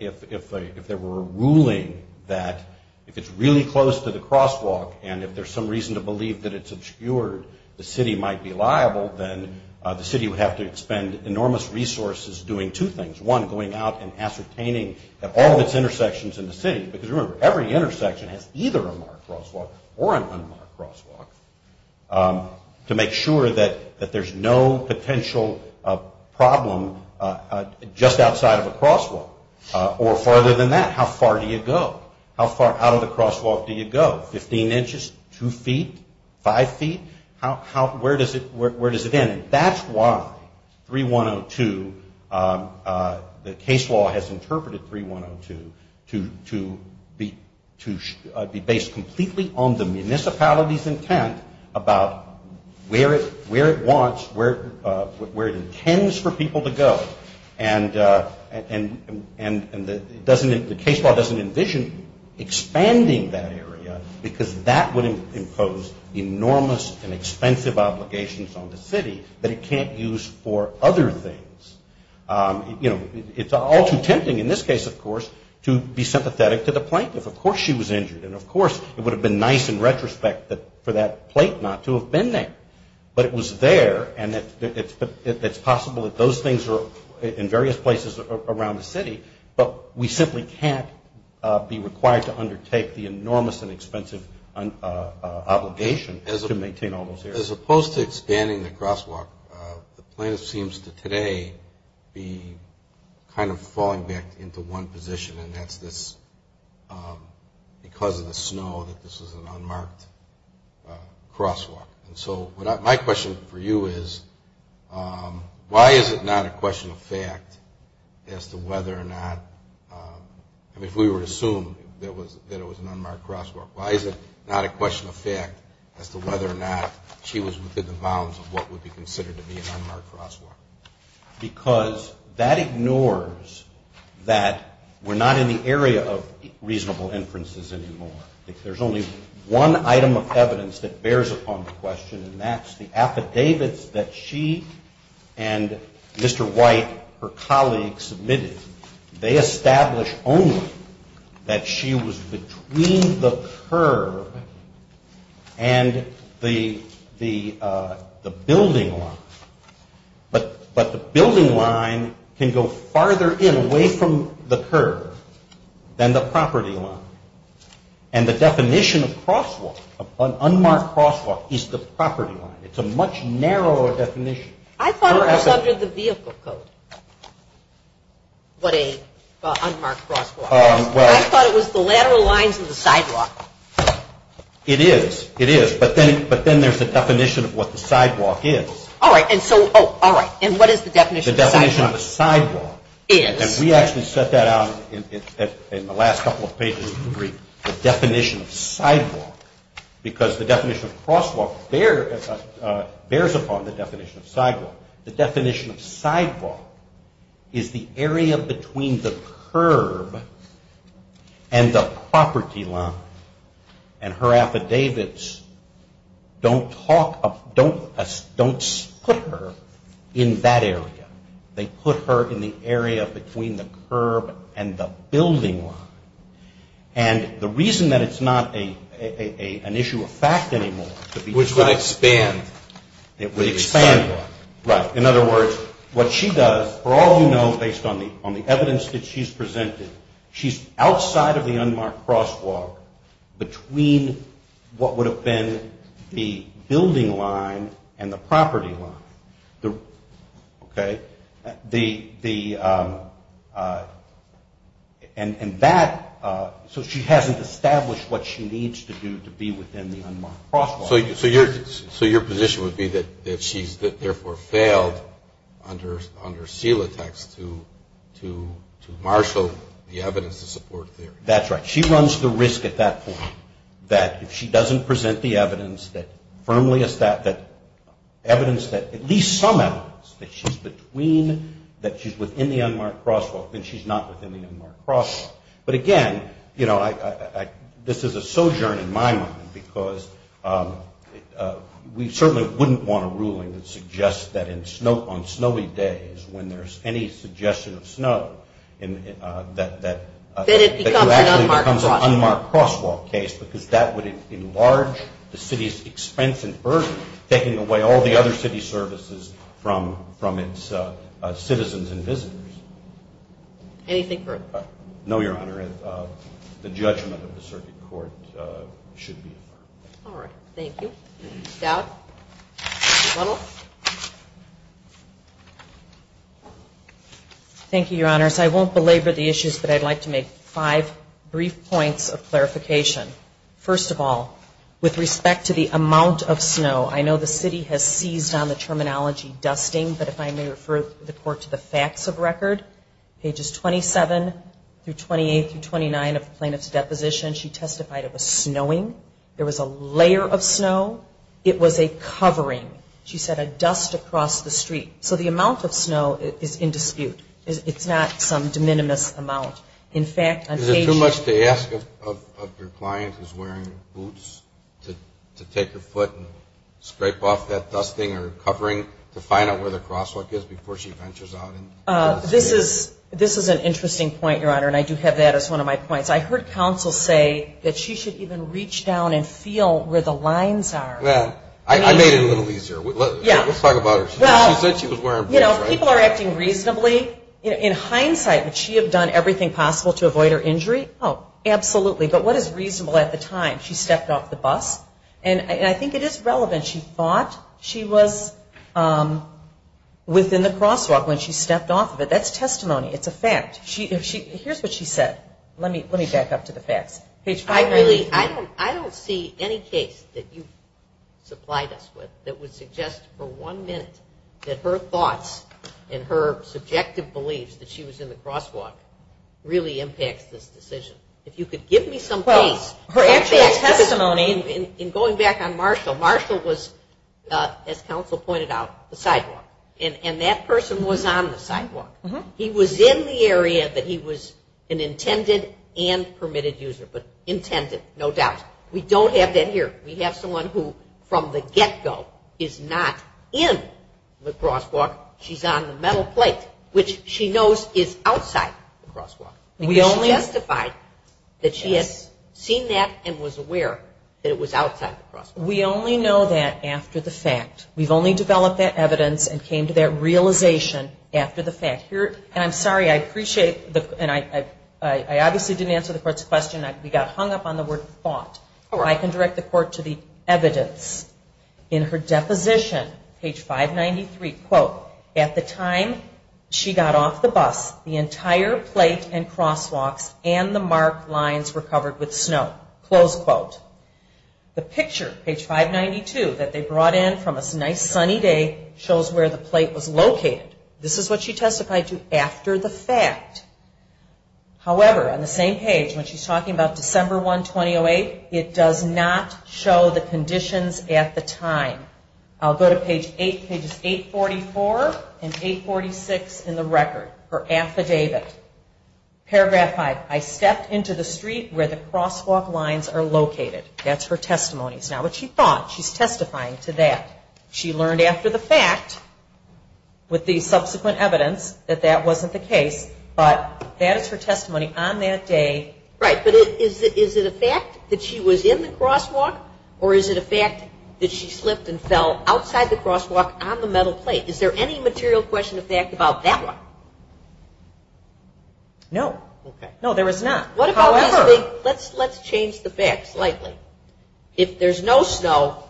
If there were a ruling that if it's really close to the crosswalk and if there's some reason to believe that it's obscured, the city might be liable, then the city would have to expend enormous resources doing two things. One, going out and ascertaining that all of its intersections in the city, because remember, every intersection has either a marked crosswalk or an unmarked crosswalk, to make sure that there's no potential problem just outside of a crosswalk. Or farther than that, how far do you go? How far out of the crosswalk do you go? Fifteen inches? Two feet? Five feet? Where does it end? That's why 3102, the case law has interpreted 3102 to be based completely on the municipality's intent about where it wants, where it intends for people to go. And the case law doesn't envision expanding that area because that would impose enormous and expensive obligations on the city that it can't use for other things. You know, it's all too tempting in this case, of course, to be sympathetic to the plaintiff. Of course she was injured, and of course it would have been nice in retrospect for that plate not to have been there. But it was there, and it's possible that those things are in various places around the city, but we simply can't be required to undertake the enormous and expensive obligation to maintain all those areas. As opposed to expanding the crosswalk, the plaintiff seems to today be kind of falling back into one position, and that's this, because of the snow, that this is an unmarked crosswalk. And so my question for you is, why is it not a question of fact as to whether or not, if we were to assume that it was an unmarked crosswalk, why is it not a question of fact as to whether or not she was within the bounds of what would be considered to be an unmarked crosswalk? Because that ignores that we're not in the area of reasonable inferences anymore. There's only one item of evidence that bears upon the question, and that's the affidavits that she and Mr. White, her colleagues, submitted. They establish only that she was between the curb and the building line, but the building line can go farther in, away from the curb, than the property line. And the definition of crosswalk, of an unmarked crosswalk, is the property line. It's a much narrower definition. I thought it was under the vehicle code, what a unmarked crosswalk is. I thought it was the lateral lines of the sidewalk. It is. It is. But then there's the definition of what the sidewalk is. All right. And so, oh, all right. And what is the definition of sidewalk? The definition of a sidewalk. Is. And we actually set that out in the last couple of pages of the brief, the definition of sidewalk, because the definition of crosswalk bears upon the definition of sidewalk. The definition of sidewalk is the area between the curb and the property line. And her affidavits don't talk, don't put her in that area. They put her in the area between the curb and the building line. And the reason that it's not an issue of fact anymore. Which would expand. It would expand. Right. In other words, what she does, for all you know, based on the evidence that she's presented, she's outside of the unmarked crosswalk between what would have been the building line and the property line. Okay. And that, so she hasn't established what she needs to do to be within the unmarked crosswalk. So your position would be that she's therefore failed under seal attacks to marshal the evidence to support theory. That's right. She runs the risk at that point that if she doesn't present the evidence that firmly, evidence that at least some evidence that she's between, that she's within the unmarked crosswalk, then she's not within the unmarked crosswalk. But again, you know, this is a sojourn in my mind. Because we certainly wouldn't want a ruling that suggests that on snowy days, when there's any suggestion of snow, that it actually becomes an unmarked crosswalk case. Because that would enlarge the city's expense and burden, taking away all the other city services from its citizens and visitors. Anything further? No, Your Honor. The judgment of the circuit court should be affirmed. All right. Thank you. Doubt? Muddle? Thank you, Your Honors. I won't belabor the issues, but I'd like to make five brief points of clarification. First of all, with respect to the amount of snow, I know the city has seized on the terminology dusting, but if I may refer the court to the facts of record, pages 27 through 28 through 29 of the plaintiff's deposition, she testified of a snowing. There was a layer of snow. It was a covering. She said a dust across the street. So the amount of snow is in dispute. It's not some de minimis amount. Is it too much to ask of your client who's wearing boots to take her foot and scrape off that dusting or covering to find out where the crosswalk is before she ventures out? This is an interesting point, Your Honor, and I do have that as one of my points. I heard counsel say that she should even reach down and feel where the lines are. I made it a little easier. Let's talk about her. She said she was wearing boots, right? People are acting reasonably. In hindsight, would she have done everything possible to avoid her injury? No, absolutely. But what is reasonable at the time? She stepped off the bus, and I think it is relevant. She thought she was within the crosswalk when she stepped off of it. That's testimony. It's a fact. Here's what she said. Let me back up to the facts. I don't see any case that you've supplied us with that would suggest for one minute that her thoughts and her subjective beliefs that she was in the crosswalk really impacts this decision. If you could give me some case. Her actual testimony. In going back on Marshall, Marshall was, as counsel pointed out, the sidewalk, and that person was on the sidewalk. He was in the area that he was an intended and permitted user. But intended, no doubt. We don't have that here. We have someone who from the get-go is not in the crosswalk. She's on the metal plate, which she knows is outside the crosswalk. She justified that she had seen that and was aware that it was outside the crosswalk. We only know that after the fact. We've only developed that evidence and came to that realization after the fact. I'm sorry, I appreciate, and I obviously didn't answer the court's question. We got hung up on the word thought. I can direct the court to the evidence. In her deposition, page 593, quote, at the time she got off the bus, the entire plate and crosswalks and the marked lines were covered with snow. Close quote. The picture, page 592, that they brought in from a nice sunny day, shows where the plate was located. This is what she testified to after the fact. However, on the same page, when she's talking about December 1, 2008, it does not show the conditions at the time. I'll go to page 8, pages 844 and 846 in the record, her affidavit. Paragraph 5, I stepped into the street where the crosswalk lines are located. That's her testimony. Now, what she thought, she's testifying to that. She learned after the fact with the subsequent evidence that that wasn't the case, but that is her testimony on that day. Right, but is it a fact that she was in the crosswalk, or is it a fact that she slipped and fell outside the crosswalk on the metal plate? Is there any material question of fact about that one? No. Okay. No, there is not. However. Let's change the facts slightly. If there's no snow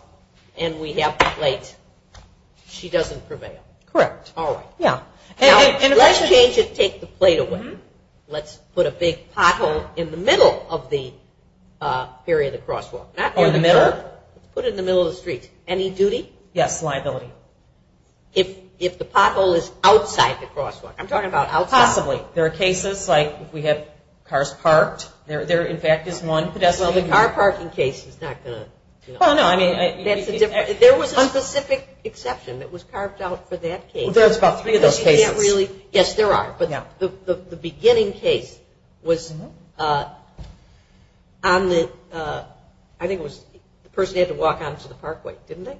and we have a plate, she doesn't prevail. Correct. All right. Yeah. Now, let's change it, take the plate away. Let's put a big pothole in the middle of the area of the crosswalk. Not in the middle. Put it in the middle of the street. Any duty? Yes, liability. If the pothole is outside the crosswalk. I'm talking about outside. Possibly. There are cases like we have cars parked. There, in fact, is one pedestrian. Well, the car parking case is not going to, you know. Well, no, I mean. That's a different. There was a specific exception that was carved out for that case. Well, there was about three of those cases. You can't really. Yes, there are. Yeah. But the beginning case was on the, I think it was, the person had to walk onto the parkway, didn't they?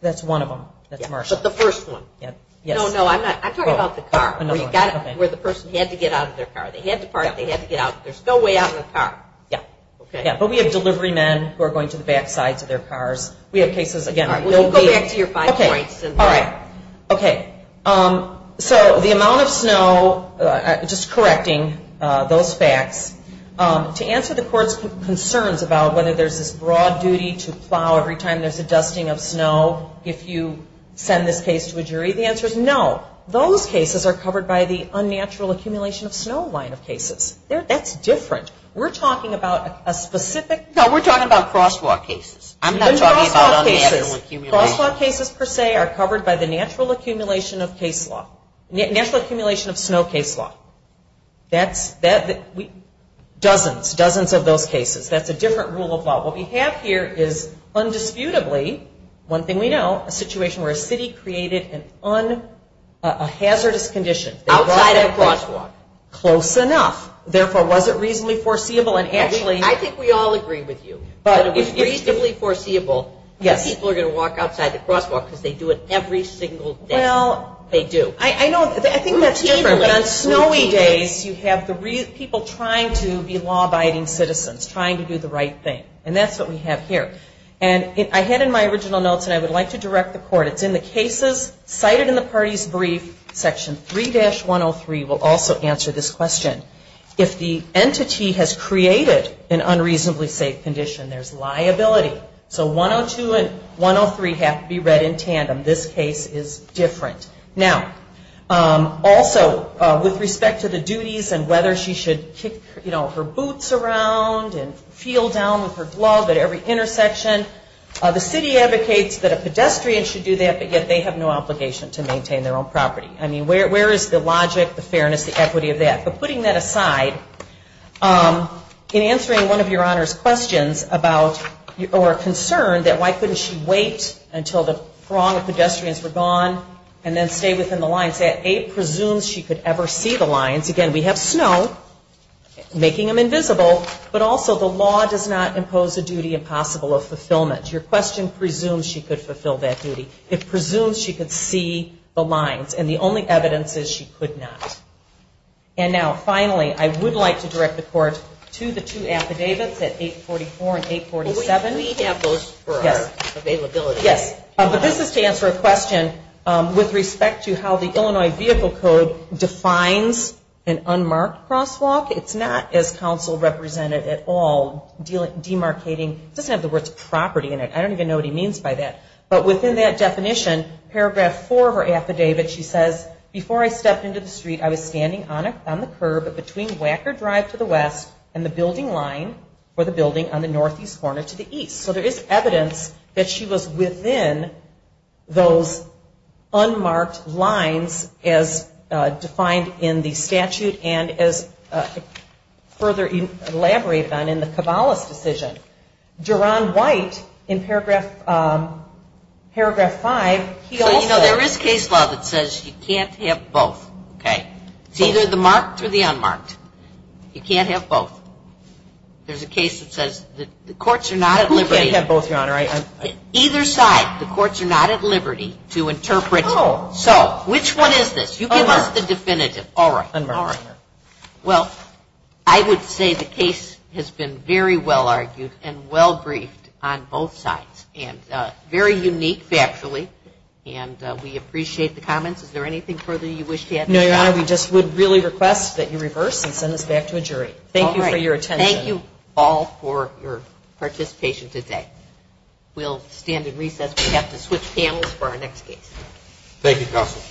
That's one of them. That's Marshall. But the first one. Yes. No, no, I'm talking about the car. Another one. Where the person had to get out of their car. They had to park. They had to get out. There's no way out in a car. Yeah. Okay. Yeah, but we have delivery men who are going to the back sides of their cars. We have cases, again. We'll go back to your five points. Okay. All right. Okay. So the amount of snow, just correcting those facts, to answer the court's concerns about whether there's this broad duty to plow every time there's a dusting of snow if you send this case to a jury, the answer is no. Those cases are covered by the unnatural accumulation of snow line of cases. That's different. We're talking about a specific. No, we're talking about crosswalk cases. I'm not talking about unnatural accumulation. Crosswalk cases per se are covered by the natural accumulation of case law, natural accumulation of snow case law. Dozens, dozens of those cases. That's a different rule of law. What we have here is undisputably, one thing we know, a situation where a city created a hazardous condition. Outside a crosswalk. Close enough. Therefore, was it reasonably foreseeable and actually. I think we all agree with you. It's reasonably foreseeable that people are going to walk outside the crosswalk because they do it every single day. Well. They do. I think that's different. On snowy days, you have people trying to be law-abiding citizens, trying to do the right thing. And that's what we have here. And I had in my original notes, and I would like to direct the court, it's in the cases cited in the party's brief, section 3-103 will also answer this question. If the entity has created an unreasonably safe condition, there's liability. So 102 and 103 have to be read in tandem. This case is different. Now, also, with respect to the duties and whether she should kick her boots around and feel down with her glove at every intersection, the city advocates that a pedestrian should do that, but yet they have no obligation to maintain their own property. I mean, where is the logic, the fairness, the equity of that? But putting that aside, in answering one of Your Honor's questions about or a concern that why couldn't she wait until the throng of pedestrians were gone and then stay within the lines, it presumes she could ever see the lines. Again, we have snow making them invisible, but also the law does not impose a duty impossible of fulfillment. Your question presumes she could fulfill that duty. It presumes she could see the lines. And the only evidence is she could not. And now, finally, I would like to direct the Court to the two affidavits at 844 and 847. We have those for our availability. Yes. But this is to answer a question with respect to how the Illinois Vehicle Code defines an unmarked crosswalk. It's not as counsel represented at all demarcating. It doesn't have the words property in it. I don't even know what he means by that. But within that definition, paragraph 4 of her affidavit, she says, before I stepped into the street, I was standing on the curb between Wacker Drive to the west and the building line for the building on the northeast corner to the east. So there is evidence that she was within those unmarked lines as defined in the statute and as further elaborated on in the Cabales decision. Duron White, in paragraph 5, he also. So, you know, there is case law that says you can't have both. Okay. It's either the marked or the unmarked. You can't have both. There's a case that says the courts are not at liberty. Who can't have both, Your Honor? Either side. The courts are not at liberty to interpret. Oh. So, which one is this? Unmarked. You give us the definitive. All right. Unmarked. Well, I would say the case has been very well argued and well briefed on both sides and very unique factually, and we appreciate the comments. Is there anything further you wish to add? No, Your Honor. We just would really request that you reverse and send us back to a jury. Thank you for your attention. All right. Thank you all for your participation today. We'll stand in recess. We have to switch panels for our next case. Thank you, Counsel.